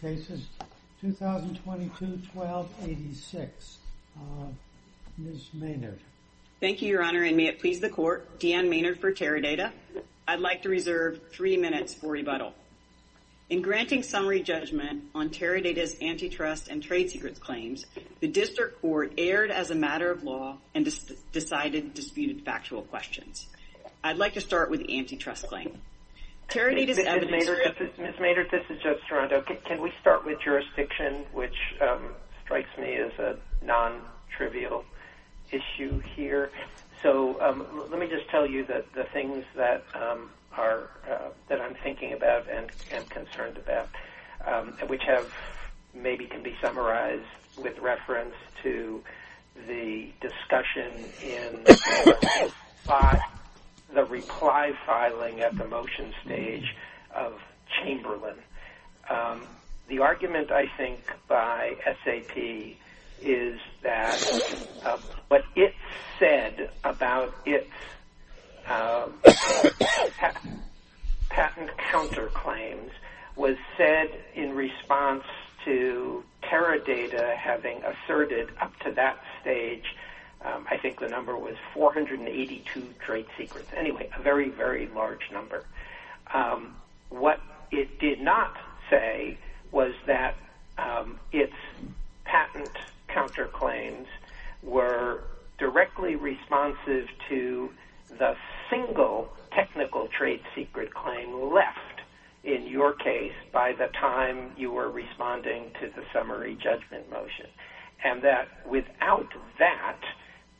cases 2022-12-86. Ms. Maynard. Thank you, Your Honor, and may it please the Court. Deanne Maynard for Teradata. I'd like to reserve three minutes for rebuttal. In granting summary judgment on Teradata's antitrust and trade secrets claims, the District Court erred as a matter of law and decided disputed factual questions. I'd like to start with the antitrust claim. Ms. Maynard, this is Joe Serrano. Can we start with jurisdiction, which strikes me as a non-trivial issue here? Let me just tell you the things that I'm thinking about and concerned about, which maybe can be summarized with reference to the discussion in the report by the reply filing at the motion stage of Chamberlain. The argument I think by SAP is that what it said about its patent counterclaims was said in response to Teradata having asserted up to that stage, I think the number was 482 trade secrets. Anyway, a very, very large number. What it did not say was that its patent counterclaims were directly responsive to the single technical trade secret claim left in your case by the time you were responding to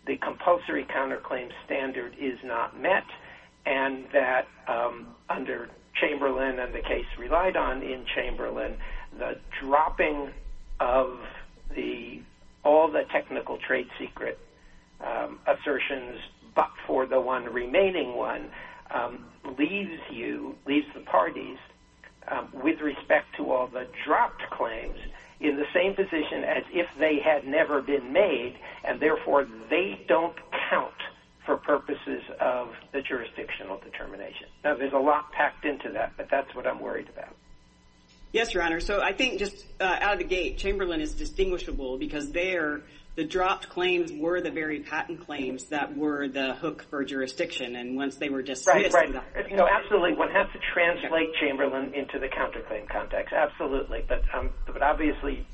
the compulsory counterclaim standard is not met and that under Chamberlain and the case relied on in Chamberlain, the dropping of all the technical trade secret assertions but for the one remaining one leaves the parties with respect to all the dropped claims in the same position as if they had never been made and therefore they don't count for purposes of the jurisdictional determination. Now, there's a lot packed into that, but that's what I'm worried about. Yes, your honor. I think just out of the gate, Chamberlain is distinguishable because there, the dropped claims were the very patent claims that were the hook for jurisdiction and once they were dismissed. Absolutely. One has to translate Chamberlain into the counterclaim context. Absolutely, but obviously,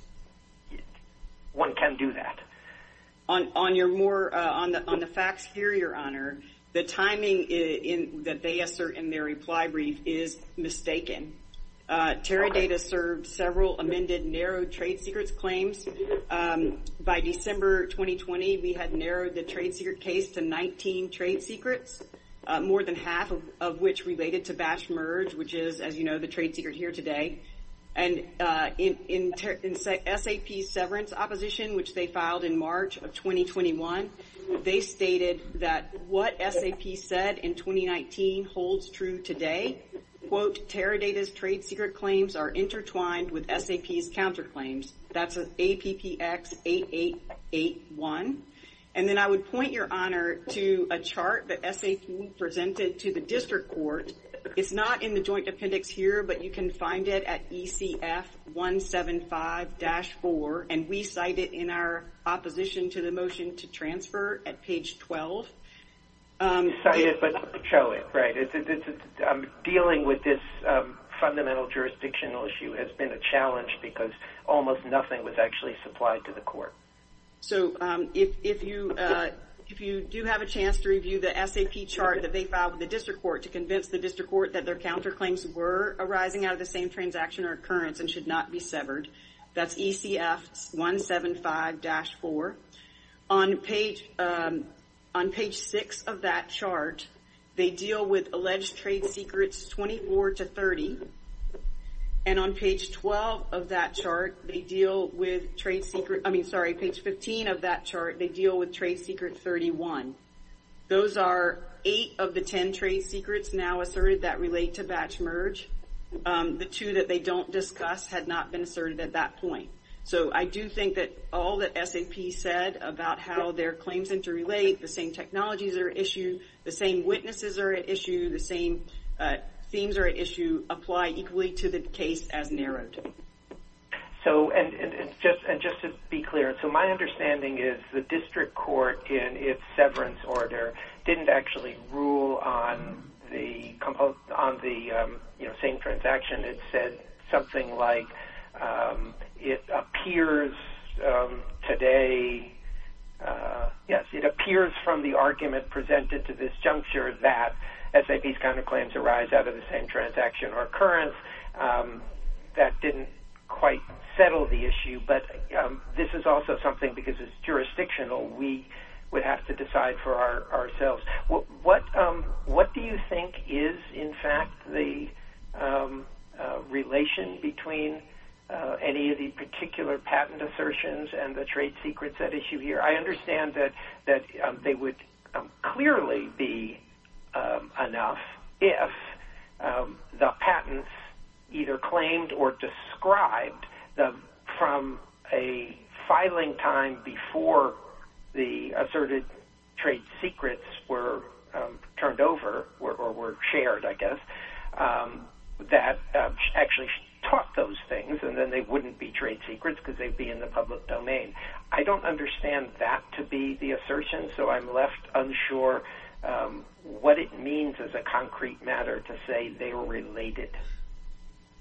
one can do that. On the facts here, your honor, the timing that they assert in their reply brief is mistaken. Teradata served several amended narrow trade secrets claims. By December 2020, we had narrowed the trade secret case to 19 trade secrets, more than half of which related to batch merge, which is, as you know, the trade secret here today. And in SAP's severance opposition, which they filed in March of 2021, they stated that what SAP said in 2019 holds true today. Quote, Teradata's trade secret claims are intertwined with SAP's counterclaims. That's an APPX8881. And then I would point your honor to a chart that SAP presented to the district court. It's not in the joint appendix here, but you can find it at ECF175-4 and we cite it in our opposition to the motion to transfer at page 12. Cite it, but show it, right. Dealing with this fundamental jurisdictional issue has been a challenge because almost nothing was actually supplied to the court. So if you do have a chance to review the SAP chart that they filed with the district court to convince the district court that their counterclaims were arising out of the same transaction or occurrence and should not be severed, that's ECF175-4. On page six of that chart, they deal with alleged trade secrets 24 to 30. And on page 12 of that chart, they deal with trade secret, I mean, sorry, page 15 of that chart, they deal with trade secret 31. Those are eight of the 10 trade secrets now asserted that relate to batch merge. The two that they don't discuss had not been asserted at that point. So I do think that all that SAP said about how their claims interrelate, the same technologies are at issue, the same witnesses are at issue, the same themes are at issue, apply equally to the case as narrowed. So and just to be clear, so my understanding is the district court in its severance order didn't actually rule on the same transaction. It said something like it appears today, yes, it appears from the argument presented to this juncture that SAP's counterclaims arise out of the same transaction or occurrence that didn't quite settle the issue. But this is also something because it's jurisdictional, we would have to decide for ourselves. What do you think is in fact the relation between any of the particular patent assertions and the trade secrets at issue here? I understand that they would clearly be enough if the patents either claimed or described from a filing time before the asserted trade secrets were turned over or were shared, I guess, that actually taught those things and then they wouldn't be trade secrets because they'd be in the public domain. I don't understand that to be the assertion, so I'm left unsure what it means as a concrete matter to say they were related.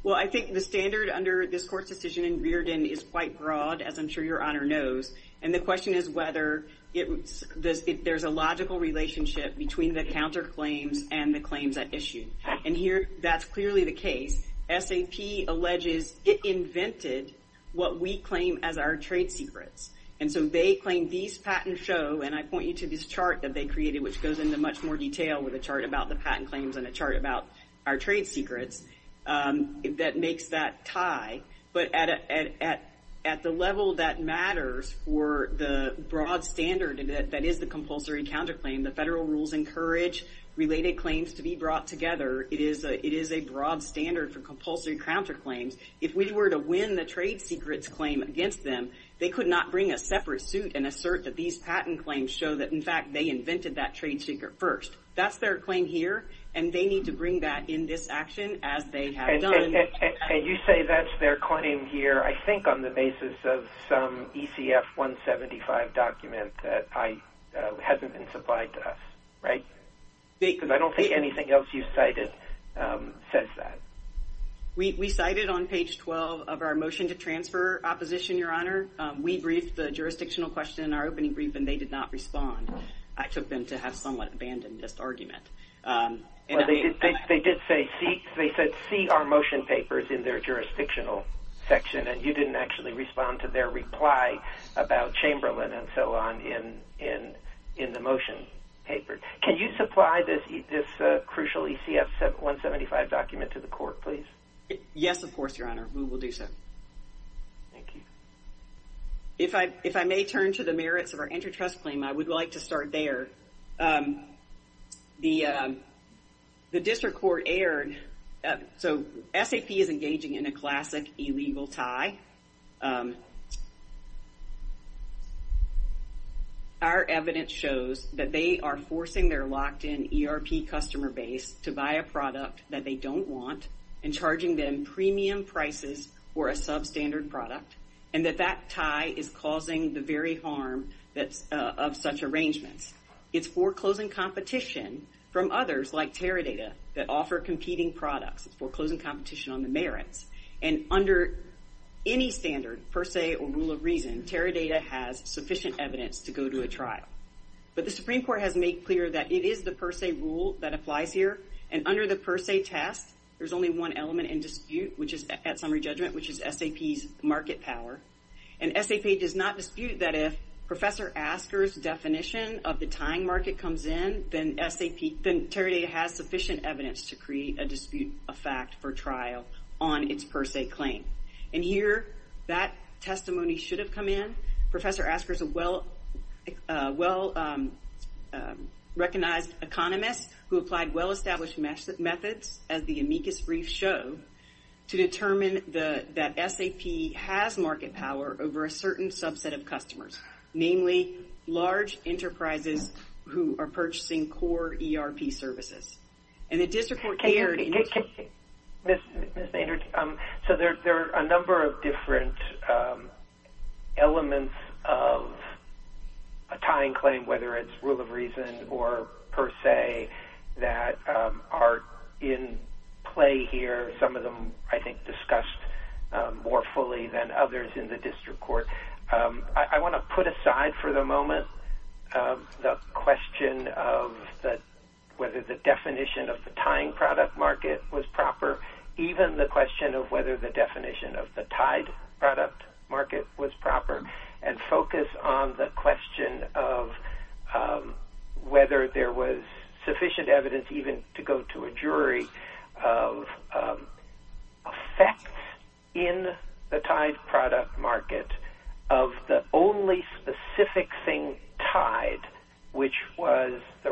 Well, I think the standard under this court's decision in Reardon is quite broad, as I'm sure your honor knows, and the question is whether there's a logical relationship between the counterclaims and the claims at issue. And here that's clearly the case. SAP alleges it invented what we claim as our trade secrets, and so they claim these patents show, and I point you to this chart that they created, which goes into much more detail with a chart about the patent claims and a chart about our trade secrets, that makes that tie. But at the level that matters for the broad standard that is the compulsory counterclaim, the federal rules encourage related claims to be brought together. It is a broad standard for compulsory counterclaims. If we were to win the trade secrets claim against them, they could not bring a separate suit and assert that these patent claims show that, in fact, they invented that trade secret first. That's their claim here, and they need to bring that in this action, as they have done. And you say that's their claim here, I think on the basis of some ECF 175 document that hasn't been supplied to us, right? Because I don't think anything else you cited says that. We cited on page 12 of our motion to transfer opposition, your honor. We briefed the jurisdictional question in our opening brief, and they did not respond. I took them to have somewhat abandoned this argument. Well, they did say see our motion papers in their jurisdictional section, and you didn't actually respond to their reply about Chamberlain and so on in the motion papers. Can you supply this crucial ECF 175 document to the court, please? Yes, of course, your honor. We will do so. Thank you. If I may turn to the merits of our antitrust claim, I would like to start there. The district court aired, so SAP is engaging in a classic illegal tie. Our evidence shows that they are forcing their locked-in ERP customer base to buy a product that they don't want, and charging them premium prices for a substandard product, and that that tie is causing the very harm of such arrangements. It's foreclosing competition from others like Teradata that offer competing products. It's foreclosing competition on the merits, and under any standard, per se, or rule of reason, Teradata has sufficient evidence to go to a trial, but the Supreme Court has made clear that it is the per se rule that applies here, and under the per se test, there's only one element in dispute, which is at summary judgment, which is SAP's market power, and SAP does not dispute that if Professor Asker's definition of the tying market comes in, then SAP, then Teradata has sufficient evidence to create a claim, and here that testimony should have come in. Professor Asker is a well-recognized economist who applied well-established methods, as the amicus briefs show, to determine that SAP has market power over a certain subset of customers, namely large enterprises who are a number of different elements of a tying claim, whether it's rule of reason or per se, that are in play here. Some of them, I think, discussed more fully than others in the district court. I want to put aside for the moment the question of whether the definition of the tying product market was proper, even the question of whether the definition of the tied product market was proper, and focus on the question of whether there was sufficient evidence even to go to a jury of effects in the tied product market of the only specific thing tied, which was the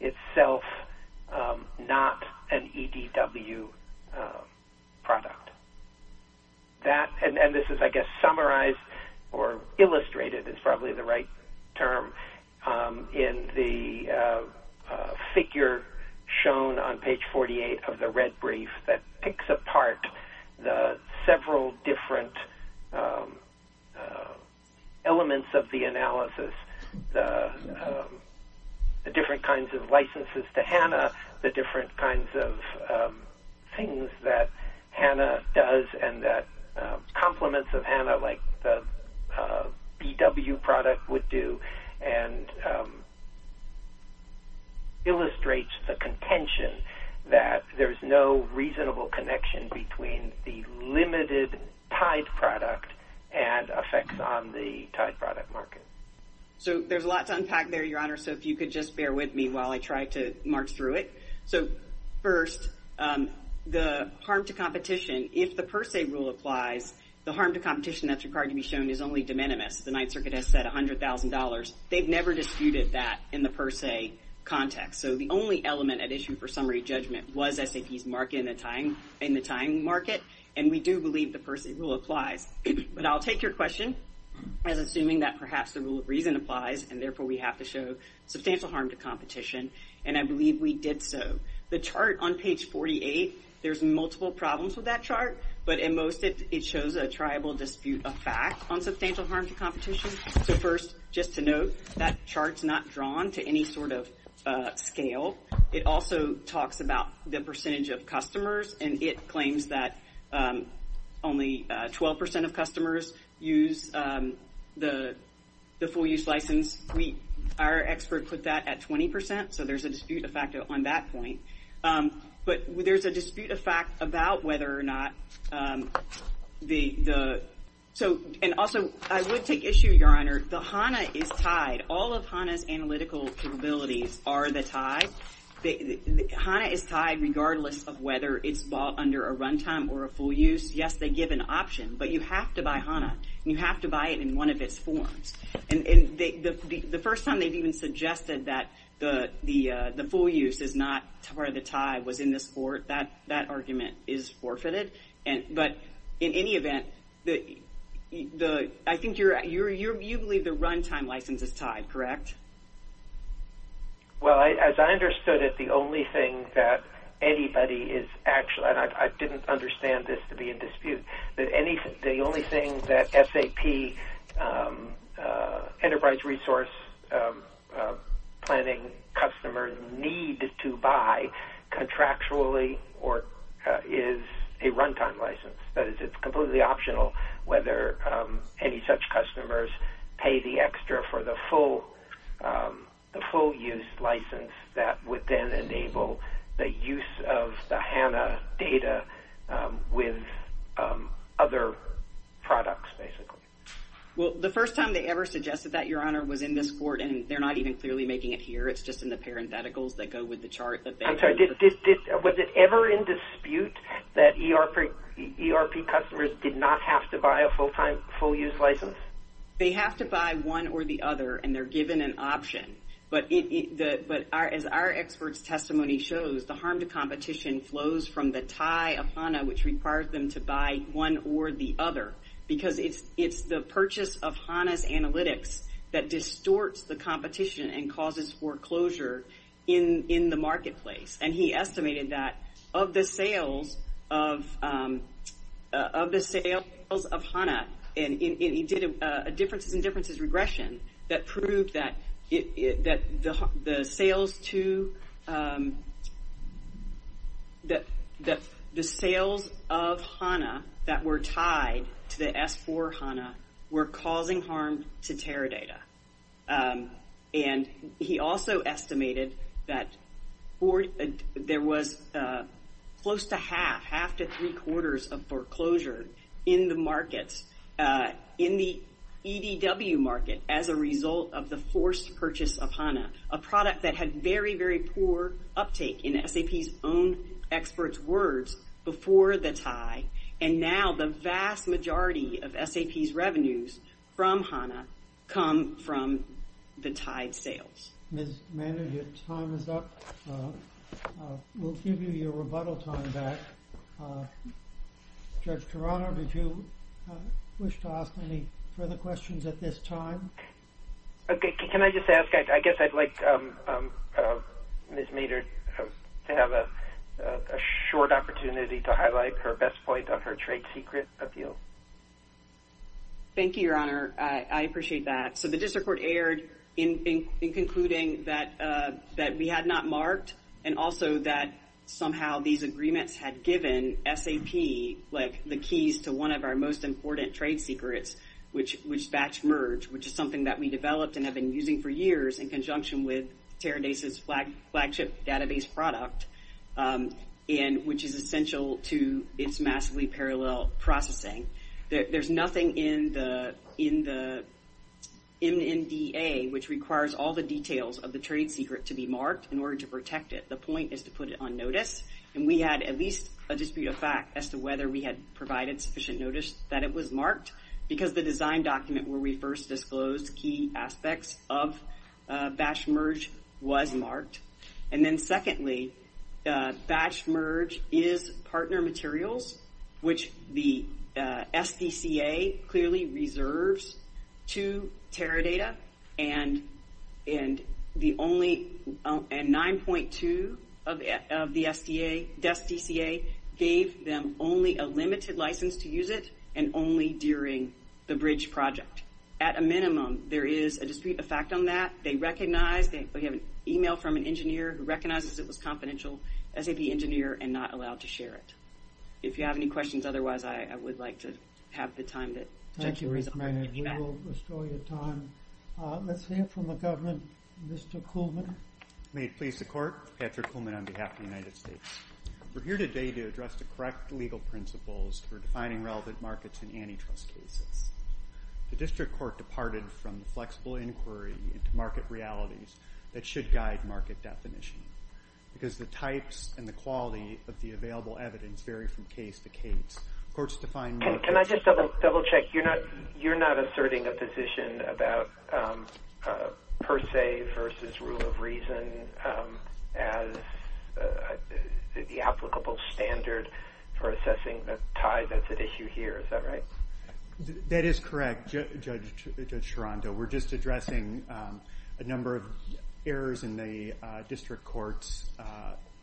itself not an EDW product. This is, I guess, summarized or illustrated is probably the right term in the figure shown on page 48 of the red brief that picks apart the several different elements of the analysis, the different kinds of licenses to HANA, the different kinds of things that HANA does and that complements of HANA, like the BW product would do, and illustrates the contention that there's no reasonable connection between the limited tied product and effects on the tied product market. So there's a lot to unpack there, your honor, so if you could just bear with me while I try to march through it. So first, the harm to competition, if the per se rule applies, the harm to competition that's required to be shown is only de minimis. The Ninth Circuit has said $100,000. They've never disputed that in the per se context. So the only element at issue for summary judgment was SAP's market in do believe the per se rule applies, but I'll take your question as assuming that perhaps the rule of reason applies and therefore we have to show substantial harm to competition, and I believe we did so. The chart on page 48, there's multiple problems with that chart, but in most it shows a triable dispute of fact on substantial harm to competition. So first, just to note, that chart's not drawn to any sort of scale. It also talks about the percentage of customers and it claims that only 12% of customers use the full use license. Our expert put that at 20%, so there's a dispute of fact on that point, but there's a dispute of fact about whether or not the, so, and also, I would take issue, your honor, the HANA is tied. All of HANA's analytical capabilities are the yes, they give an option, but you have to buy HANA and you have to buy it in one of its forms, and the first time they've even suggested that the full use is not part of the tie was in this port, that argument is forfeited, but in any event, I think you're, you believe the runtime license is tied, correct? Well, as I understood it, the only thing that anybody is actually, and I didn't understand this to be in dispute, that any, the only thing that SAP enterprise resource planning customers need to buy contractually or is a runtime license, that is, it's completely optional whether any such customers pay the extra for the full use license that would then enable the use of the HANA data with other products, basically. Well, the first time they ever suggested that, your honor, was in this port, and they're not even clearly making it here, it's just in the parentheticals that go with the chart. Was it ever in dispute that ERP customers did not have to buy a full-time, full-use license? They have to buy one or the other, and they're given an option, but as our expert's testimony shows, the harm to competition flows from the tie of HANA, which requires them to buy one or the other, because it's the purchase of HANA's analytics that distorts the competition and causes foreclosure in the marketplace, and he estimated that of the sales of HANA, and he did a differences and differences regression that proved that the sales of HANA that were tied to the S4 HANA were causing harm to Teradata, and he also estimated that for, there was close to half, half to three quarters of foreclosure in the markets, in the EDW market as a result of the forced purchase of HANA, a product that had very, very poor uptake in SAP's own experts' words before the tie, and now the vast majority of SAP's revenues from HANA come from the tied sales. Ms. Maynard, your time is up. We'll give you your rebuttal time back. Judge Toronto, did you wish to ask any further questions at this time? Okay, can I just ask, I guess I'd like Ms. Maynard to have a short opportunity to highlight her best point of her trade secret appeal. Thank you, Your Honor. I appreciate that. The district court erred in concluding that we had not marked, and also that somehow these agreements had given SAP the keys to one of our most important trade secrets, which is batch merge, which is something that we developed and have been using for years in conjunction with Teradata's flagship database product, which is essential to its massively parallel processing. There's nothing in the MNDA which requires all the details of the trade secret to be marked in order to protect it. The point is to put it on notice, and we had at least a dispute of fact as to whether we had provided sufficient notice that it was marked, because the design document where we first disclosed key aspects of batch merge was marked. And then secondly, batch merge is partner materials, which the SDCA clearly reserves to Teradata, and 9.2 of the SDCA gave them only a limited license to use it, and only during the bridge project. At a minimum, there is a dispute of fact on that. We have an email from an engineer who recognizes it was SAP engineer and not allowed to share it. If you have any questions, otherwise, I would like to have the time. Thank you, Ruth Maynard. We will restore your time. Let's hear from the government. Mr. Kuhlman. May it please the court. Patrick Kuhlman on behalf of the United States. We're here today to address the correct legal principles for defining relevant markets in antitrust cases. The district court departed from the flexible inquiry into market realities that should guide market definition, because the types and the quality of the available evidence vary from case to case. Courts define... Can I just double check? You're not asserting a position about per se versus rule of reason as the applicable standard for assessing the tie that's at issue here. Is that right? That is correct, Judge Chirondo. We're just errors in the district court's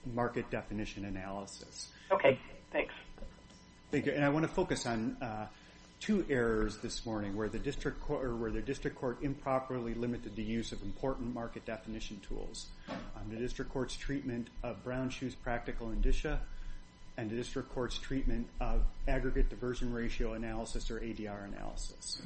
market definition analysis. Okay. Thanks. I want to focus on two errors this morning where the district court improperly limited the use of important market definition tools. The district court's treatment of Brown-Schuh's practical indicia and the district court's treatment of aggregate diversion ratio analysis or ADR analysis.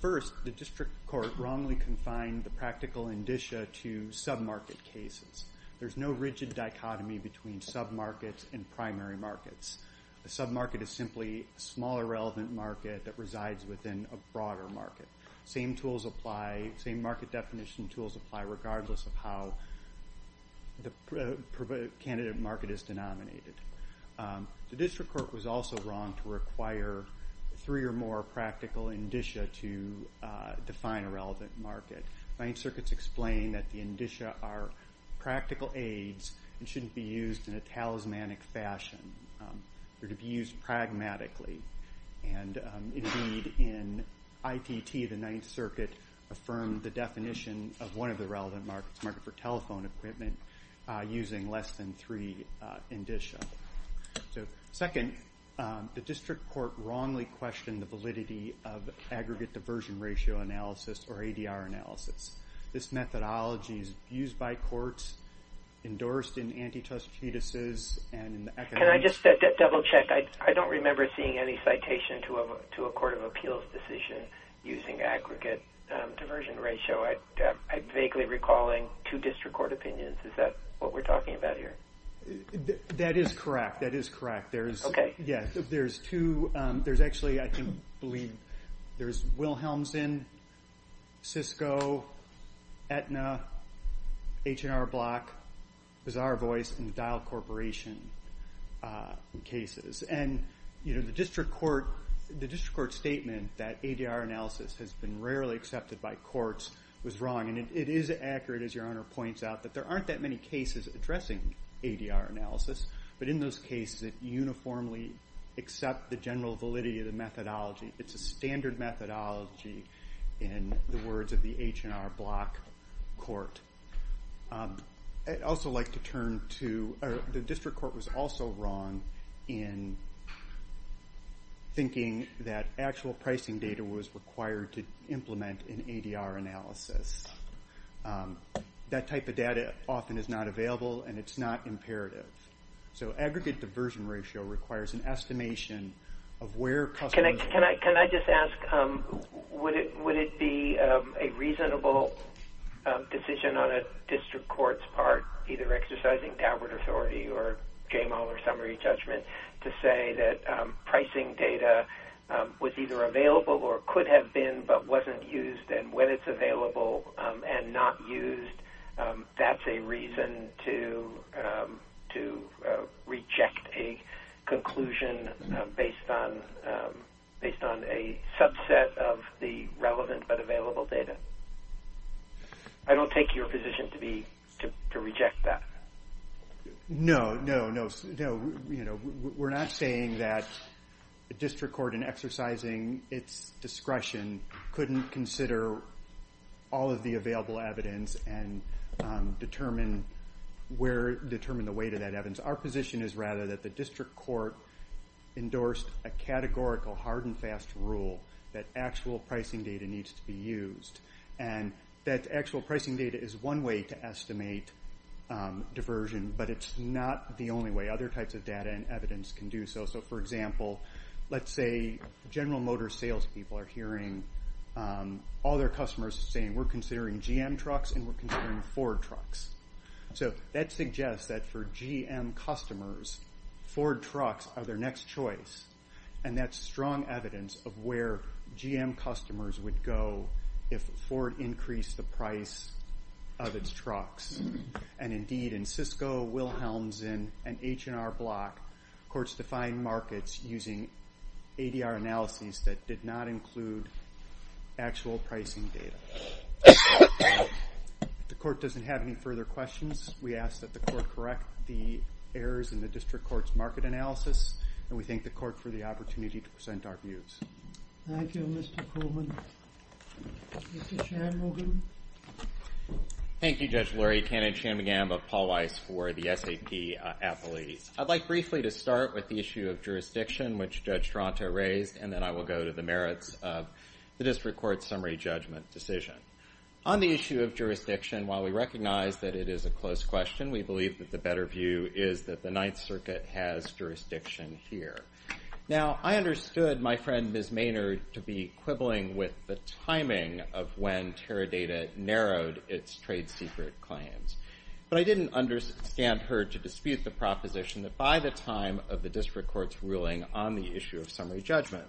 First, the district court wrongly confined the practical indicia to sub-market cases. There's no rigid dichotomy between sub-markets and primary markets. A sub-market is simply a smaller relevant market that resides within a broader market. Same market definition tools apply regardless of how the candidate market is denominated. The district court was also wrong to require three or more practical indicia to define a relevant market. Ninth Circuit's explained that the indicia are practical aids and shouldn't be used in a talismanic fashion. They're to be used pragmatically. Indeed, in ITT, the Ninth Circuit affirmed the definition of one of the relevant markets, market for telephone equipment, using less than three indicia. So second, the district court wrongly questioned the validity of aggregate diversion ratio analysis or ADR analysis. This methodology is used by courts, endorsed in antitrust treatises, and in the... Can I just double check? I don't remember seeing any citation to a court of appeals decision using aggregate diversion ratio. I'm vaguely recalling two district court opinions. Is that what we're talking about here? That is correct. That is correct. Okay. Yes. There's two. There's actually, I believe, there's Wilhelmsen, Cisco, Aetna, H&R Block, Bizarre Voice, and Dial Corporation cases. The district court statement that ADR analysis has been rarely accepted by courts was wrong. It is accurate, as your Honor points out, that there aren't that many cases addressing ADR analysis, but in those cases, it uniformly accepts the general validity of the methodology. It's a standard methodology in the words of the H&R Block court. I'd also like to turn to... The district court was also wrong in thinking that actual pricing data was required to implement an ADR analysis. That type of data often is not available, and it's not imperative. Aggregate diversion ratio requires an estimation of where customers... Can I just ask, would it be a reasonable decision on a district court's part, either exercising tabard authority, or game all, or summary judgment, to say that pricing data was either available or could have been, but wasn't used, and when it's available and not used, that's a reason to reject a conclusion based on a subset of the relevant but available data? I don't take your position to reject that. No, no, no. We're not saying that the district court, in exercising its discretion, couldn't consider all of the available evidence and determine the weight of that evidence. Our position is rather that the district court endorsed a categorical hard and fast rule that actual pricing data needs to be used, and that actual pricing data is one way to estimate diversion, but it's not the only way. Other types of data and evidence can do so. So for example, let's say General Motors sales people are hearing all their customers saying, we're considering GM trucks and we're considering Ford trucks. So that suggests that for GM customers, Ford trucks are their next choice, and that's strong evidence of where GM customers would go if Ford increased the price of its trucks. Indeed, in Cisco, Wilhelmsen, and H&R Block, courts define markets using ADR analyses that did not include actual pricing data. If the court doesn't have any further questions, we ask that the court correct the errors in the district court's market analysis, and we thank the court for the opportunity to present our views. Thank you, Mr. Coleman. Mr. Shanmugam. Thank you, Judge Lurie. Ken and Shanmugam of Paul Weiss for the SAP athletes. I'd like briefly to start with the issue of jurisdiction, which Judge Toronto raised, and then I will go to the merits of the district court's summary judgment decision. On the issue of jurisdiction, while we recognize that it is a close question, we believe that the better view is that the Ninth Circuit has jurisdiction here. Now, I understood my friend, Ms. Maynard, to be quibbling with the timing of when Teradata narrowed its trade secret claims, but I didn't understand her to dispute the proposition that by the time of the district court's ruling on the issue of summary judgment,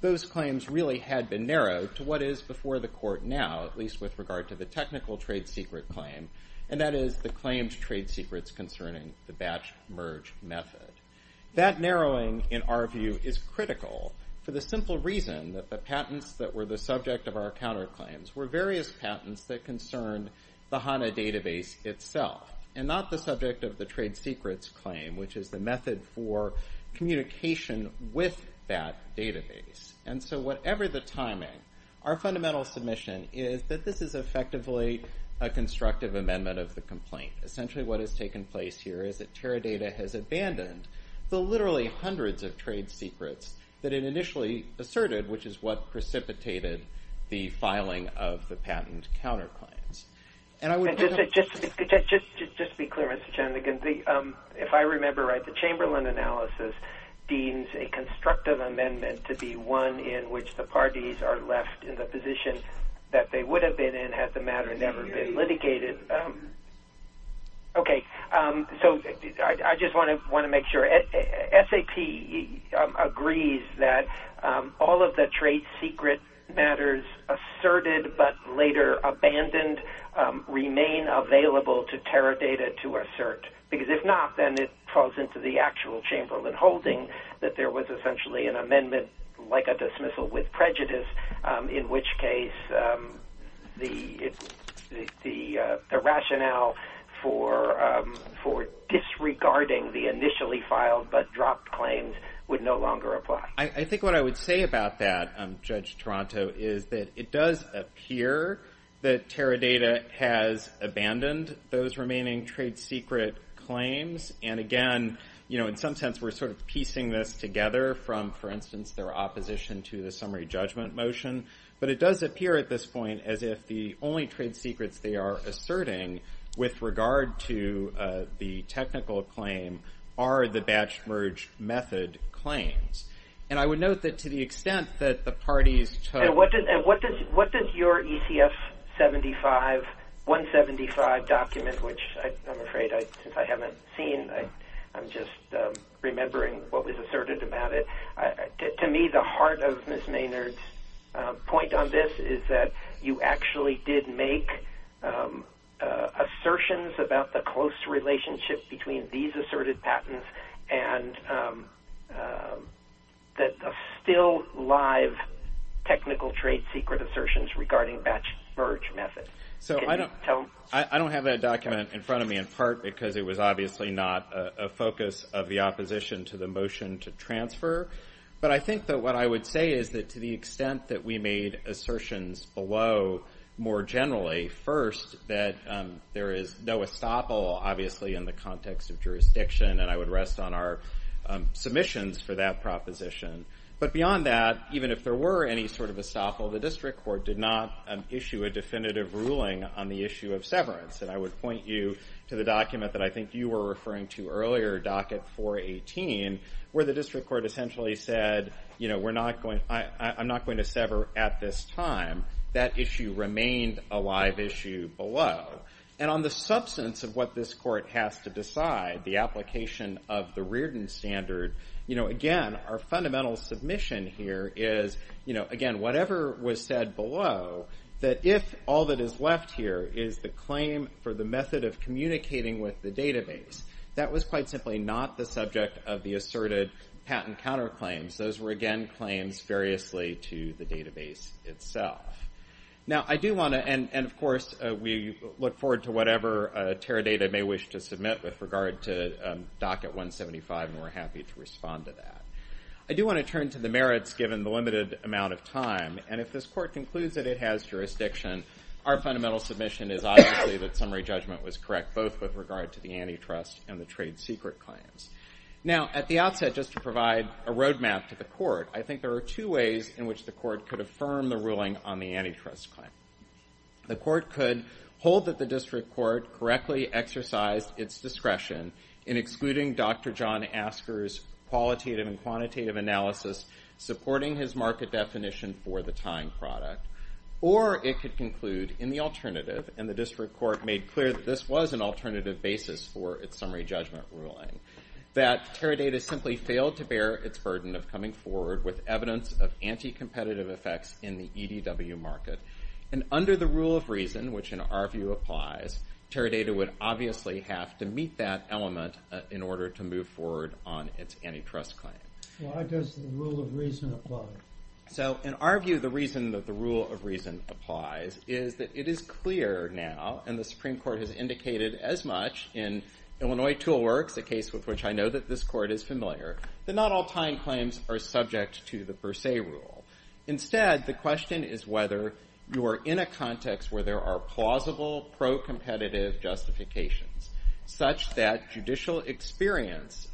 those claims really had been narrowed to what is before the court now, at least with regard to the technical trade secret claim, and that is the claimed trade secrets concerning the batch merge method. That narrowing in our view is critical for the simple reason that the patents that were the subject of our counterclaims were various patents that concerned the HANA database itself and not the subject of the trade secrets claim, which is the method for communication with that database. And so whatever the timing, our fundamental submission is that this is effectively a constructive amendment of the complaint. Essentially, what has taken place here is that Teradata has abandoned the literally hundreds of trade secrets that it initially asserted, which is what precipitated the filing of the patent counterclaims. Just to be clear, Mr. Chanigan, if I remember right, the Chamberlain analysis deems a constructive amendment to be one in which the parties are left in the position that they would have been in had the matter never been litigated. Okay. So I just want to make sure. SAP agrees that all of the trade secret matters asserted, but later abandoned, remain available to Teradata to assert. Because if not, then it falls into the actual Chamberlain holding that there was essentially an amendment like a dismissal with prejudice, in which case the rationale for disregarding the initially filed but dropped claims would no longer apply. I think what I would say about that, Judge Toronto, is that it does appear that Teradata has abandoned those remaining trade secret claims. And again, in some sense, we're sort of piecing this together from, for instance, their opposition to the summary judgment motion. But it does appear at this point as if the only trade secrets they are asserting with regard to the technical claim are the batch merge method claims. And I would note that to the extent that the parties took... And what does your ECF 175 document, which I'm afraid since I haven't seen, I'm just remembering what was asserted about it. To me, the heart of Ms. Maynard's point on this is that you actually did make assertions about the close relationship between these asserted patents and the still live technical trade secret assertions regarding batch merge method. So I don't have that document in front of me, in part because it was obviously not a focus of the opposition to the motion to transfer. But I think that what I would say is that to the extent that we made assertions below, more generally, first, that there is no estoppel, obviously, in the context of jurisdiction, and I would rest on our submissions for that proposition. But beyond that, even if there were any sort of estoppel, the district court did not issue a definitive ruling on the issue of severance. And I would point you to the document that I think you were referring to earlier, docket 418, where the district court essentially said, I'm not going to sever at this time. That issue remained a live issue below. And on the substance of what this court has to decide, the application of the Reardon standard, again, our fundamental submission here is, again, whatever was said below, that if all that is left here is the claim for the method of communicating with the database, that was quite simply not the subject of the asserted patent counterclaims. Those were, again, claims variously to the database itself. Now, I do want to, and of docket 175, and we're happy to respond to that. I do want to turn to the merits, given the limited amount of time. And if this court concludes that it has jurisdiction, our fundamental submission is, obviously, that summary judgment was correct, both with regard to the antitrust and the trade secret claims. Now, at the outset, just to provide a roadmap to the court, I think there are two ways in which the court could affirm the ruling on the antitrust claim. The court could hold that district court correctly exercised its discretion in excluding Dr. John Asker's qualitative and quantitative analysis, supporting his market definition for the time product. Or it could conclude in the alternative, and the district court made clear that this was an alternative basis for its summary judgment ruling, that Teradata simply failed to bear its burden of coming forward with evidence of anti-competitive effects in the EDW market. And under the rule of reason, which in our view applies, Teradata would obviously have to meet that element in order to move forward on its antitrust claim. Why does the rule of reason apply? So in our view, the reason that the rule of reason applies is that it is clear now, and the Supreme Court has indicated as much in Illinois Tool Works, a case with which I know that this court is familiar, that not all time claims are subject to the per se rule. Instead, the question is whether you are in a context where there are plausible pro-competitive justifications, such that judicial experience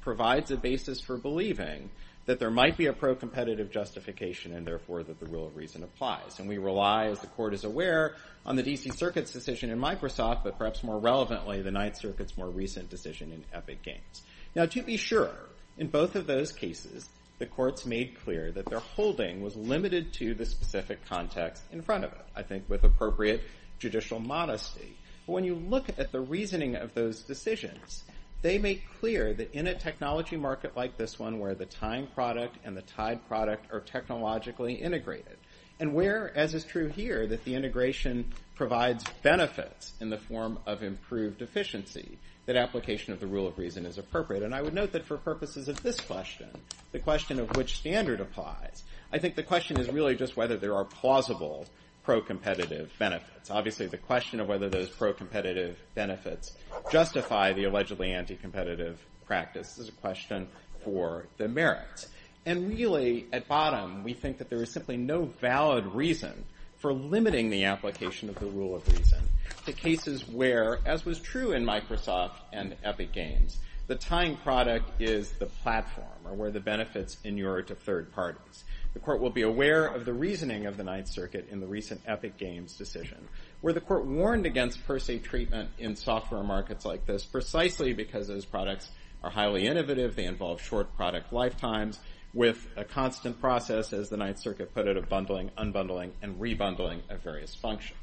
provides a basis for believing that there might be a pro-competitive justification, and therefore that the rule of reason applies. And we rely, as the court is aware, on the D.C. Circuit's decision in Microsoft, but perhaps more relevantly, the Ninth Circuit's more recent decision in Epic Games. Now to be sure, in both of those cases, the courts made clear that their holding was limited to the specific context in front of it, I think with appropriate judicial modesty. But when you look at the reasoning of those decisions, they make clear that in a technology market like this one, where the time product and the tied product are technologically integrated, and where, as is true here, that the integration provides benefits in the form of improved efficiency, that application of the rule of reason is appropriate. And I would note that for purposes of this question, the question of which standard applies, I think the question is really just whether there are plausible pro-competitive benefits. Obviously, the question of whether those pro-competitive benefits justify the allegedly anti-competitive practice is a question for the merits. And really, at bottom, we think that there is simply no valid reason for limiting the application of the rule of reason to cases where, as was true in Microsoft and Epic Games, the tying product is the platform, or where the benefits inure to third parties. The court will be aware of the reasoning of the Ninth Circuit in the recent Epic Games decision, where the court warned against per se treatment in software markets like this precisely because those products are highly innovative, they involve short product lifetimes, with a constant process, as the Ninth Circuit put it, of bundling, unbundling, and re-bundling of various functions.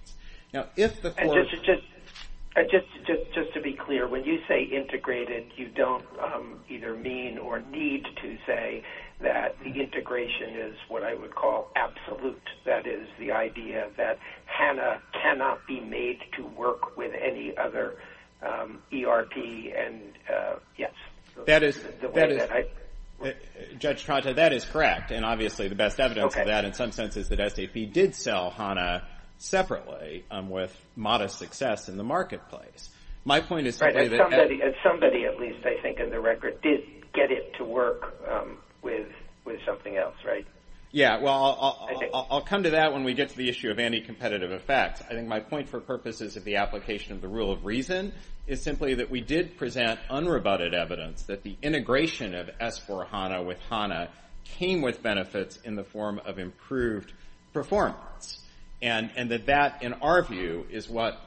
Now, if the court... And just to be clear, when you say integrated, you don't either mean or need to say that the integration is what I would call absolute. That is, the idea that HANA cannot be made to work with any other ERP and... Yes. Judge Tronta, that is correct. And obviously, the best evidence of that, in some senses, that SAP did sell HANA separately with modest success in the marketplace. My point is... Right. Somebody, at least I think in the record, did get it to work with something else, right? Yeah. Well, I'll come to that when we get to the issue of anti-competitive effects. I think my point, for purposes of the application of the rule of reason, is simply that we did present unrebutted evidence that the integration of S4 HANA with HANA came with benefits in the form of improved performance. And that that, in our view, is what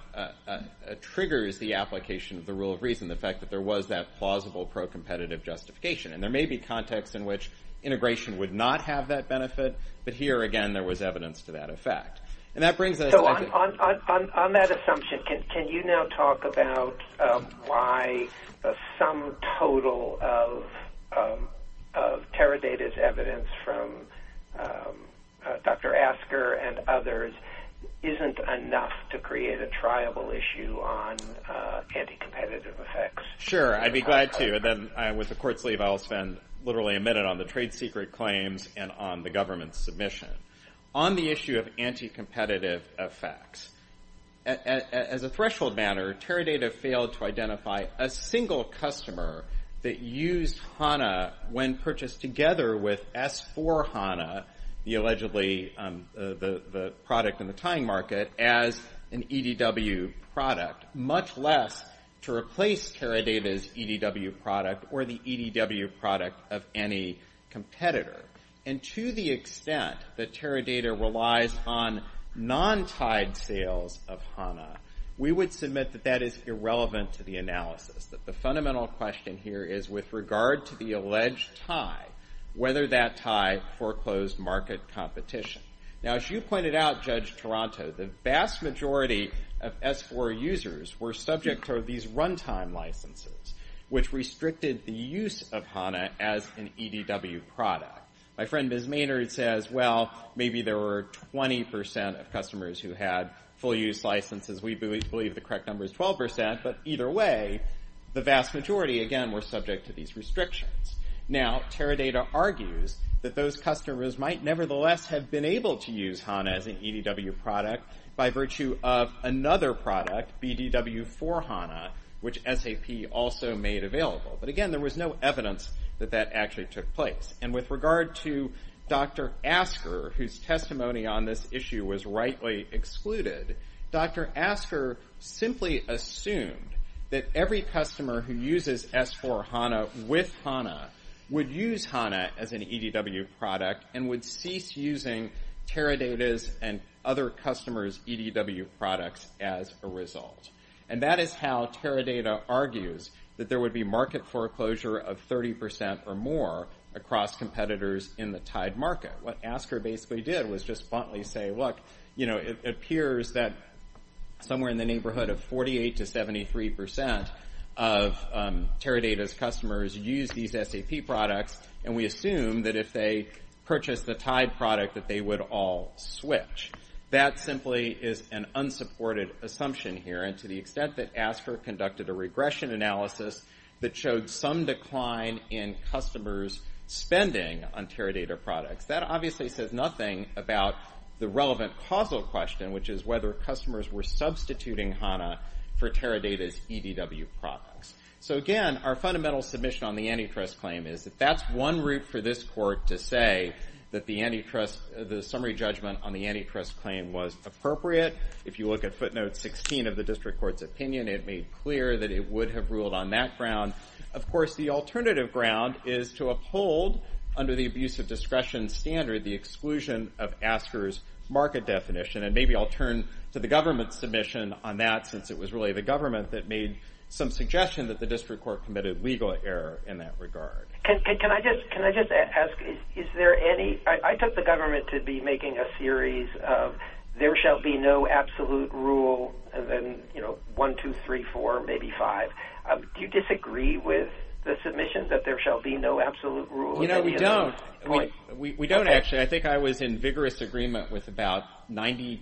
triggers the application of the rule of reason, the fact that there was that plausible pro-competitive justification. And there may be contexts in which integration would not have that benefit, but here, again, there was evidence to that effect. And that brings us... On that assumption, can you now talk about why some total of Teradata's evidence from Dr. Asker and others isn't enough to create a triable issue on anti-competitive effects? Sure. I'd be glad to. And then, with the court's leave, I'll spend literally a minute on the trade claims and on the government's submission. On the issue of anti-competitive effects, as a threshold matter, Teradata failed to identify a single customer that used HANA when purchased together with S4 HANA, the allegedly...the product in the tying market, as an EDW product, much less to replace Teradata's EDW product or the EDW product of any competitor. And to the extent that Teradata relies on non-tied sales of HANA, we would submit that that is irrelevant to the analysis, that the fundamental question here is, with regard to the alleged tie, whether that tie foreclosed market competition. Now, as you pointed out, Judge Toronto, the vast majority of S4 users were subject to these runtime licenses, which My friend, Ms. Maynard, says, well, maybe there were 20% of customers who had full-use licenses. We believe the correct number is 12%. But either way, the vast majority, again, were subject to these restrictions. Now, Teradata argues that those customers might nevertheless have been able to use HANA as an EDW product by virtue of another product, BDW4 HANA, which SAP also made available. But again, there was no evidence that that actually took place. And with regard to Dr. Asker, whose testimony on this issue was rightly excluded, Dr. Asker simply assumed that every customer who uses S4 HANA with HANA would use HANA as an EDW product and would cease using Teradata's and other customers' EDW products as a result. And that is how Teradata argues that there would be market foreclosure of 30% or more across competitors in the tied market. What Asker basically did was just bluntly say, look, it appears that somewhere in the neighborhood of 48% to 73% of Teradata's customers use these SAP products, and we assume that if they purchase the tied product that they would all switch. That simply is an unsupported assumption here. And to the extent that Asker conducted a regression analysis that showed some decline in customers' spending on Teradata products, that obviously says nothing about the relevant causal question, which is whether customers were substituting HANA for Teradata's EDW products. So again, our fundamental submission on the antitrust claim is that that's one route for this court to say that the summary judgment on the antitrust claim was appropriate. If you look at footnote 16 of the district court's opinion, it made clear that it would have ruled on that ground. Of course, the alternative ground is to uphold, under the abuse of discretion standard, the exclusion of Asker's market definition. And maybe I'll turn to the government's submission on that, since it was really the government that made some suggestion that the district court committed legal error in that regard. Can I just ask, is there any... I took the government to be making a series of there shall be no absolute rule, and then, you know, one, two, three, four, maybe five. Do you disagree with the submission that there shall be no absolute rule? You know, we don't. We don't, actually. I think I was in vigorous agreement with about 99%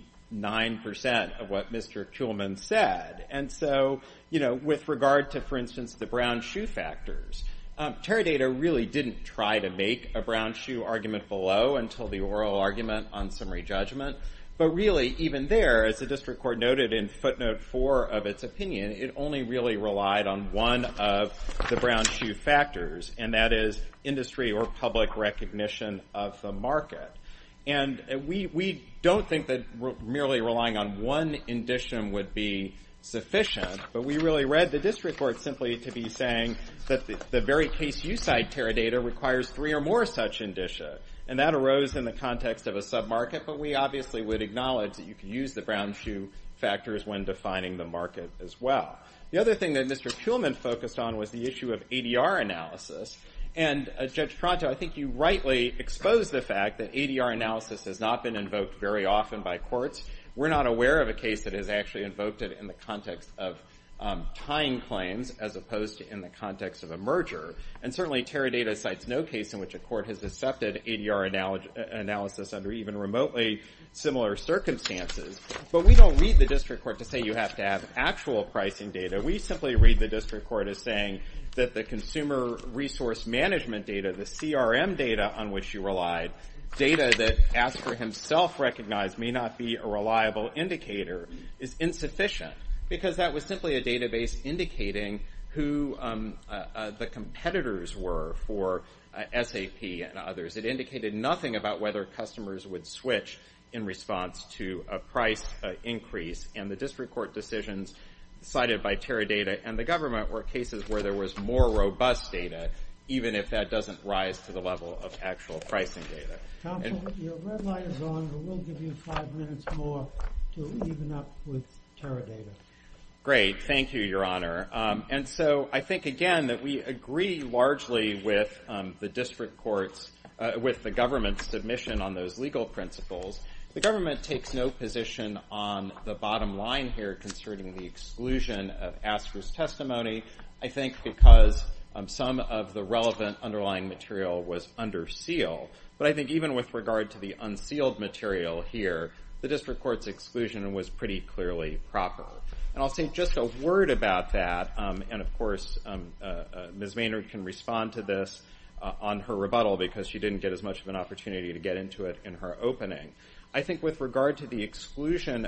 of what Mr. Kuhlman said. And so, you know, with regard to, for instance, the brown shoe factors, Teradata really didn't try to make a brown shoe argument below until the oral argument on summary judgment. But really, even there, as the district court noted in footnote four of its opinion, it only really relied on one of the brown shoe factors, and that is industry or public recognition of the market. And we don't think that merely relying on one indicium would be sufficient, but we really read the district court simply to be saying that the very case you cite, Teradata, requires three or more such indicia. And that arose in the context of a sub-market, but we obviously would acknowledge that you can use the brown shoe factors when defining the market as well. The other thing that Mr. Kuhlman focused on was the issue of ADR analysis. And Judge Pronto, I think you rightly exposed the fact that ADR analysis has not been invoked very often by courts. We're not aware of a case that has actually invoked it in the context of tying claims as opposed to in the context of a merger. And certainly, Teradata cites no case in which a court has accepted ADR analysis under even remotely similar circumstances. But we don't read the district court to say you have to have actual pricing data. We simply read the district court as saying that the consumer resource management data, the CRM data on which you relied, data that Asper himself recognized may not be a reliable indicator, is insufficient. Because that was simply a database indicating who the competitors were for SAP and others. It indicated nothing about whether customers would switch in response to a price increase. And the district court decisions cited by Teradata and the government were cases where there was more robust data, even if that doesn't rise to the level of actual pricing data. Counsel, your red light is on. We'll give you five minutes more to even up with Teradata. Great. Thank you, Your Honor. And so I think, again, that we agree largely with the district courts, with the government's submission on those legal principles. The government takes no position on the bottom line here concerning the exclusion of Asper's testimony. I think because some of the relevant underlying material was under seal. But I think even with regard to the unsealed material here, the district court's exclusion was pretty clearly proper. And I'll say just a word about that. And of course, Ms. Maynard can respond to this on her rebuttal because she didn't get as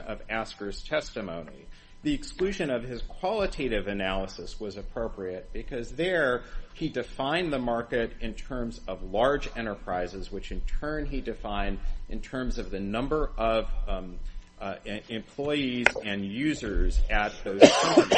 of Asper's testimony. The exclusion of his qualitative analysis was appropriate because there he defined the market in terms of large enterprises, which in turn he defined in terms of the number of employees and users at those companies.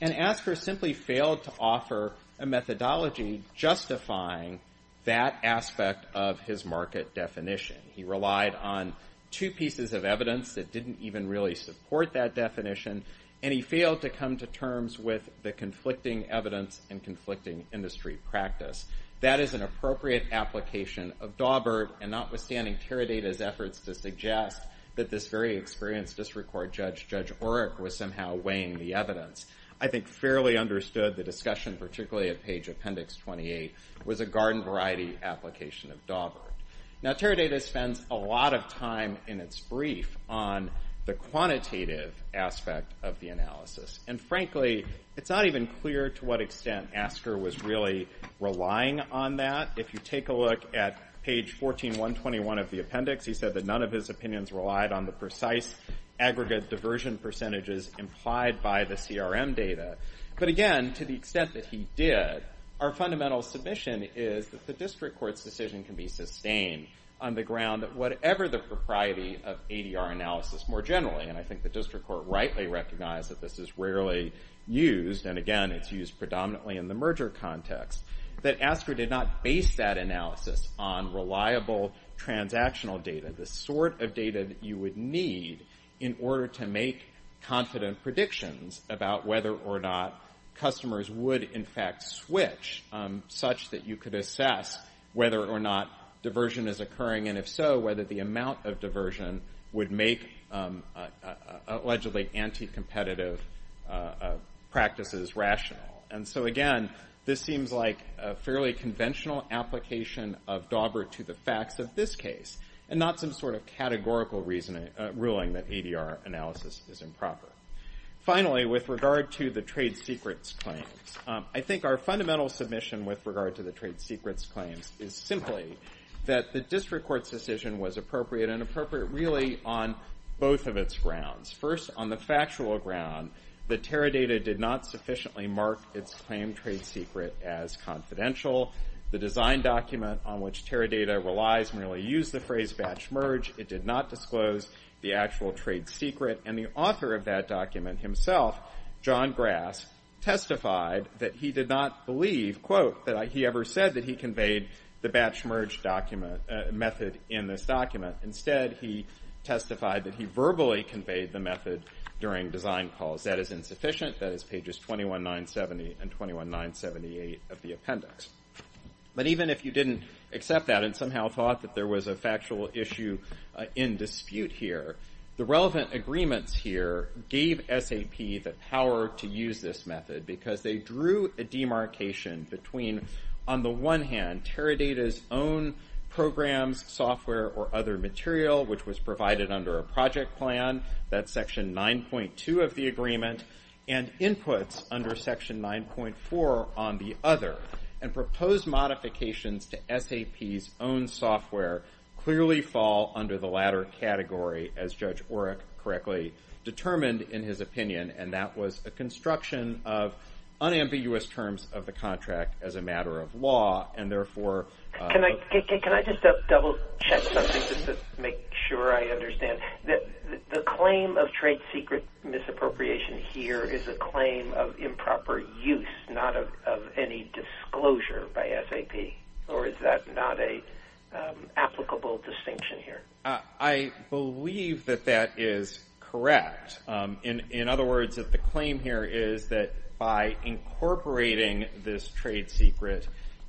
And Asper simply failed to offer a methodology justifying that aspect of his market definition. He relied on two pieces of evidence that didn't even really support that definition. And he failed to come to terms with the conflicting evidence and conflicting industry practice. That is an appropriate application of Daubert, and notwithstanding Teradata's efforts to suggest that this very experienced district court judge, Judge Oreck, was somehow weighing the evidence. I think fairly understood the discussion, particularly at page appendix 28, was a garden variety application of Daubert. Now, Teradata spends a lot of time in its brief on the quantitative aspect of the analysis. And frankly, it's not even clear to what extent Asper was really relying on that. If you take a look at page 14121 of the appendix, he said that none of his opinions relied on the precise aggregate diversion percentages implied by the CRM data. But again, to the extent that he did, our fundamental submission is that the district court's decision can be sustained on the ground that whatever the propriety of ADR analysis more generally, and I think the district court rightly recognized that this is rarely used, and again, it's used predominantly in the merger context, that Asper did not base that analysis on reliable transactional data, the sort of data that you would need in order to make confident predictions about whether or not customers would in fact switch, such that you could assess whether or not diversion is occurring, and if so, whether the amount of diversion would make allegedly anti-competitive practices rational. And so again, this seems like a fairly conventional application of Daubert to the ruling that ADR analysis is improper. Finally, with regard to the trade secrets claims, I think our fundamental submission with regard to the trade secrets claims is simply that the district court's decision was appropriate, and appropriate really on both of its grounds. First, on the factual ground, the TERRA data did not sufficiently mark its claim trade secret as confidential. The design document on which TERRA data relies merely used the phrase batch merge. It did not disclose the actual trade secret, and the author of that document himself, John Grass, testified that he did not believe, quote, that he ever said that he conveyed the batch merge method in this document. Instead, he testified that he verbally conveyed the method during design calls. That is insufficient. That is pages 21970 and 21978 of the appendix. But even if you didn't accept that and somehow thought that there was a factual issue in dispute here, the relevant agreements here gave SAP the power to use this method, because they drew a demarcation between, on the one hand, TERRA data's own programs, software, or other material, which was provided under a project plan, that's section 9.2 of the proposed modifications to SAP's own software clearly fall under the latter category, as Judge Oreck correctly determined in his opinion, and that was a construction of unambiguous terms of the contract as a matter of law, and therefore... Can I just double check something just to make sure I understand? The claim of trade secret misappropriation here is a claim of improper use, not of any disclosure by SAP, or is that not an applicable distinction here? I believe that that is correct. In other words, the claim here is that by incorporating this trade secret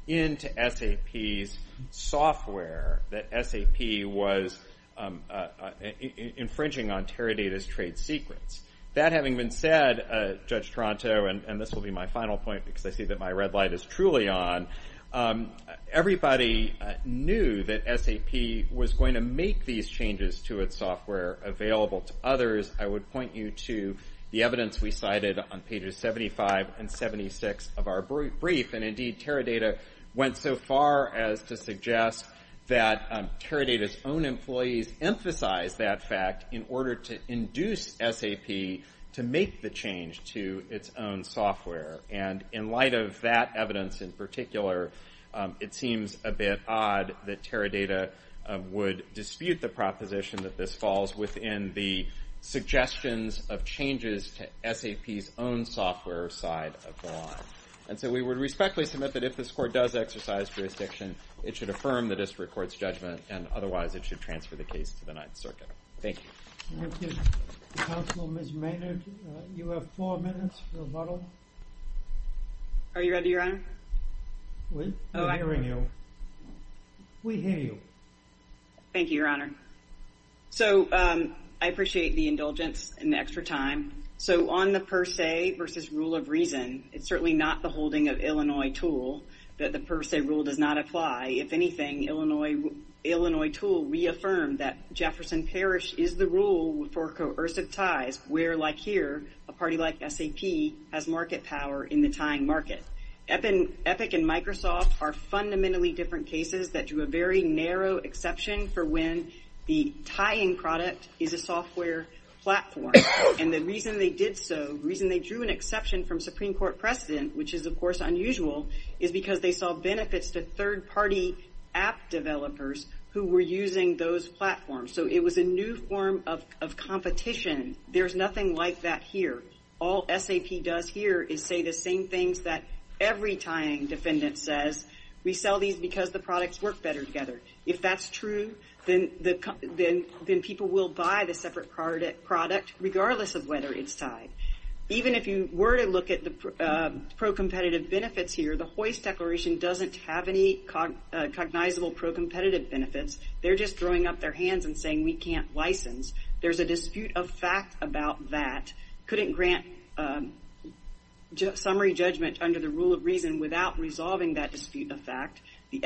into SAP's software, that SAP was That having been said, Judge Toronto, and this will be my final point because I see that my red light is truly on, everybody knew that SAP was going to make these changes to its software available to others. I would point you to the evidence we cited on pages 75 and 76 of our brief, and indeed, TERRA data went so far as to suggest that TERRA data's own employees emphasized that fact in order to induce SAP to make the change to its own software, and in light of that evidence in particular, it seems a bit odd that TERRA data would dispute the proposition that this falls within the suggestions of changes to SAP's own software side of the line, and so we would respectfully submit that if this court does exercise jurisdiction, it should affirm the district court's judgment, and otherwise, it should transfer the case to the Ninth Circuit. Thank you. Counsel, Ms. Maynard, you have four minutes for rebuttal. Are you ready, Your Honor? We're hearing you. We hear you. Thank you, Your Honor. So, I appreciate the indulgence and the extra time. So, on the per se versus rule of reason, it's certainly not the holding of Illinois Tool that the per se rule does not apply. If anything, Illinois Tool reaffirmed that Jefferson Parish is the rule for coercive ties where, like here, a party like SAP has market power in the tying market. Epic and Microsoft are fundamentally different cases that drew a very narrow exception for when the tying product is a software platform, and the reason they did so, the reason they drew an exception from Supreme Court precedent, which is, of course, unusual, is because they saw benefits to third-party app developers who were using those platforms. So, it was a new form of competition. There's nothing like that here. All SAP does here is say the same things that every tying defendant says. We sell these because the products work better together. If that's true, then people will buy the separate product regardless of whether it's tied. Even if you were to look at the pro-competitive benefits here, the Hoist Declaration doesn't have any cognizable pro-competitive benefits. They're just throwing up their hands and saying we can't license. There's a dispute of fact about that. Couldn't grant summary judgment under the rule of reason without resolving that dispute of fact. The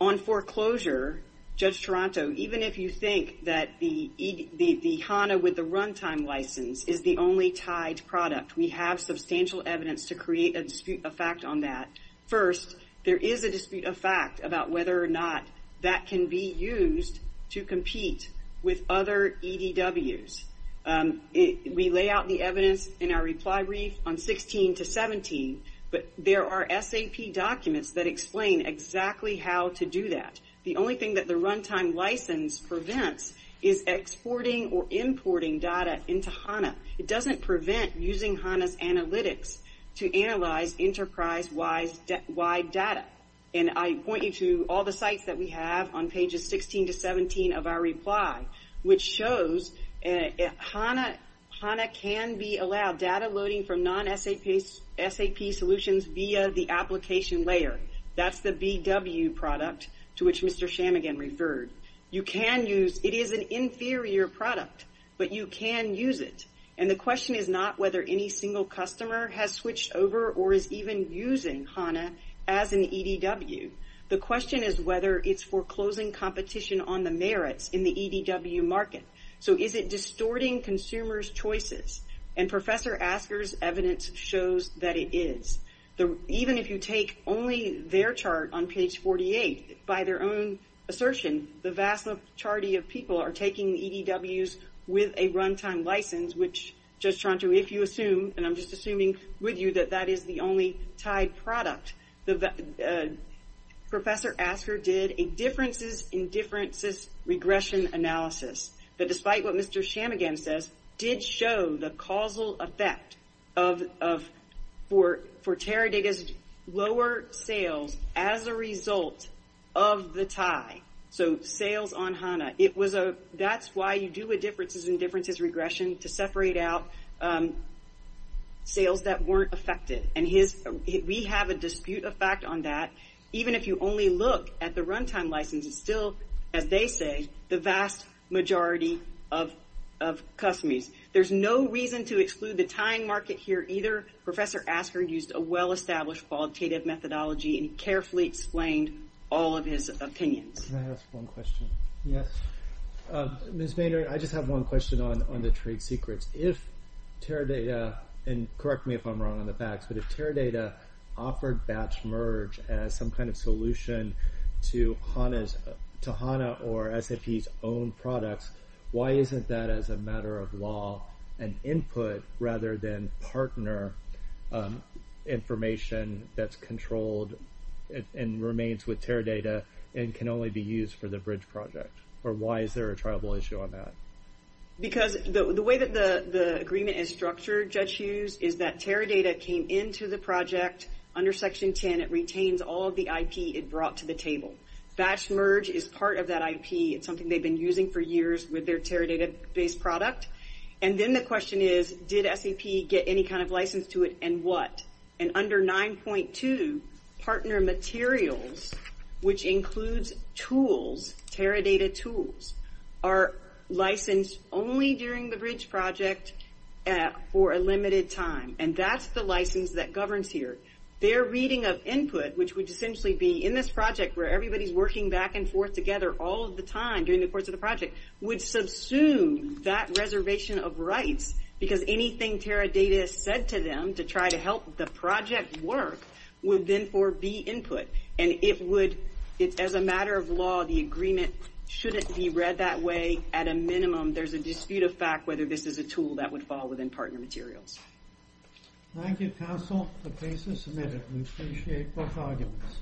On foreclosure, Judge Taranto, even if you think that the HANA with the runtime license is the only tied product, we have substantial evidence to create a dispute of fact on that. First, there is a dispute of fact about whether or not that can be used to compete with other EDWs. We lay out the evidence in our reply brief on 16 to 17, but there are SAP documents that explain exactly how to do that. The only thing that the runtime license prevents is exporting or importing data into HANA. It doesn't prevent using HANA's analytics to analyze enterprise-wide data. And I point you all the sites that we have on pages 16 to 17 of our reply, which shows HANA can be allowed data loading from non-SAP solutions via the application layer. That's the BW product to which Mr. Shammigan referred. It is an inferior product, but you can use it. And the question is not whether any single has switched over or is even using HANA as an EDW. The question is whether it's foreclosing competition on the merits in the EDW market. So is it distorting consumers' choices? And Professor Asker's evidence shows that it is. Even if you take only their chart on page 48, by their own assertion, the vast majority of people are taking EDWs with a runtime license, which Judge Taranto, and I'm just assuming with you, that that is the only tied product. Professor Asker did a differences-in-differences regression analysis that, despite what Mr. Shammigan says, did show the causal effect for Teradata's lower sales as a result of the tie. So sales on HANA. That's why you do a differences-in-differences regression to separate out sales that weren't affected. And we have a dispute effect on that. Even if you only look at the runtime license, it's still, as they say, the vast majority of customers. There's no reason to exclude the tying market here either. Professor Asker used a well-established qualitative methodology and carefully explained all of his opinions. Can I ask one question? Yes. Ms. Boehner, I just have one question on the trade secrets. If Teradata, and correct me if I'm wrong on the facts, but if Teradata offered batch merge as some kind of solution to HANA or SAP's own products, why isn't that, as a matter of law, an input rather than partner information that's controlled and remains with Teradata and can only be used for the bridge project? Or why is there a triable issue on that? Because the way that the agreement is structured, Judge Hughes, is that Teradata came into the project under Section 10. It retains all of the IP it brought to the table. Batch merge is part of that IP. It's something they've been using for years with their Teradata-based product. Then the question is, did SAP get any kind of license to it and what? Under 9.2, partner materials, which includes tools, Teradata tools, are licensed only during the bridge project for a limited time. That's the license that governs here. Their reading of input, which would essentially be in this project where everybody's working back and forth together all of the time during the course of the project, would subsume that reservation of rights because anything Teradata said to them to try to help the project work would then forbid input. As a matter of law, the agreement shouldn't be read that way. At a minimum, there's a dispute of fact whether this is a tool that would fall within partner materials. Thank you, counsel. The case is submitted. We appreciate both arguments.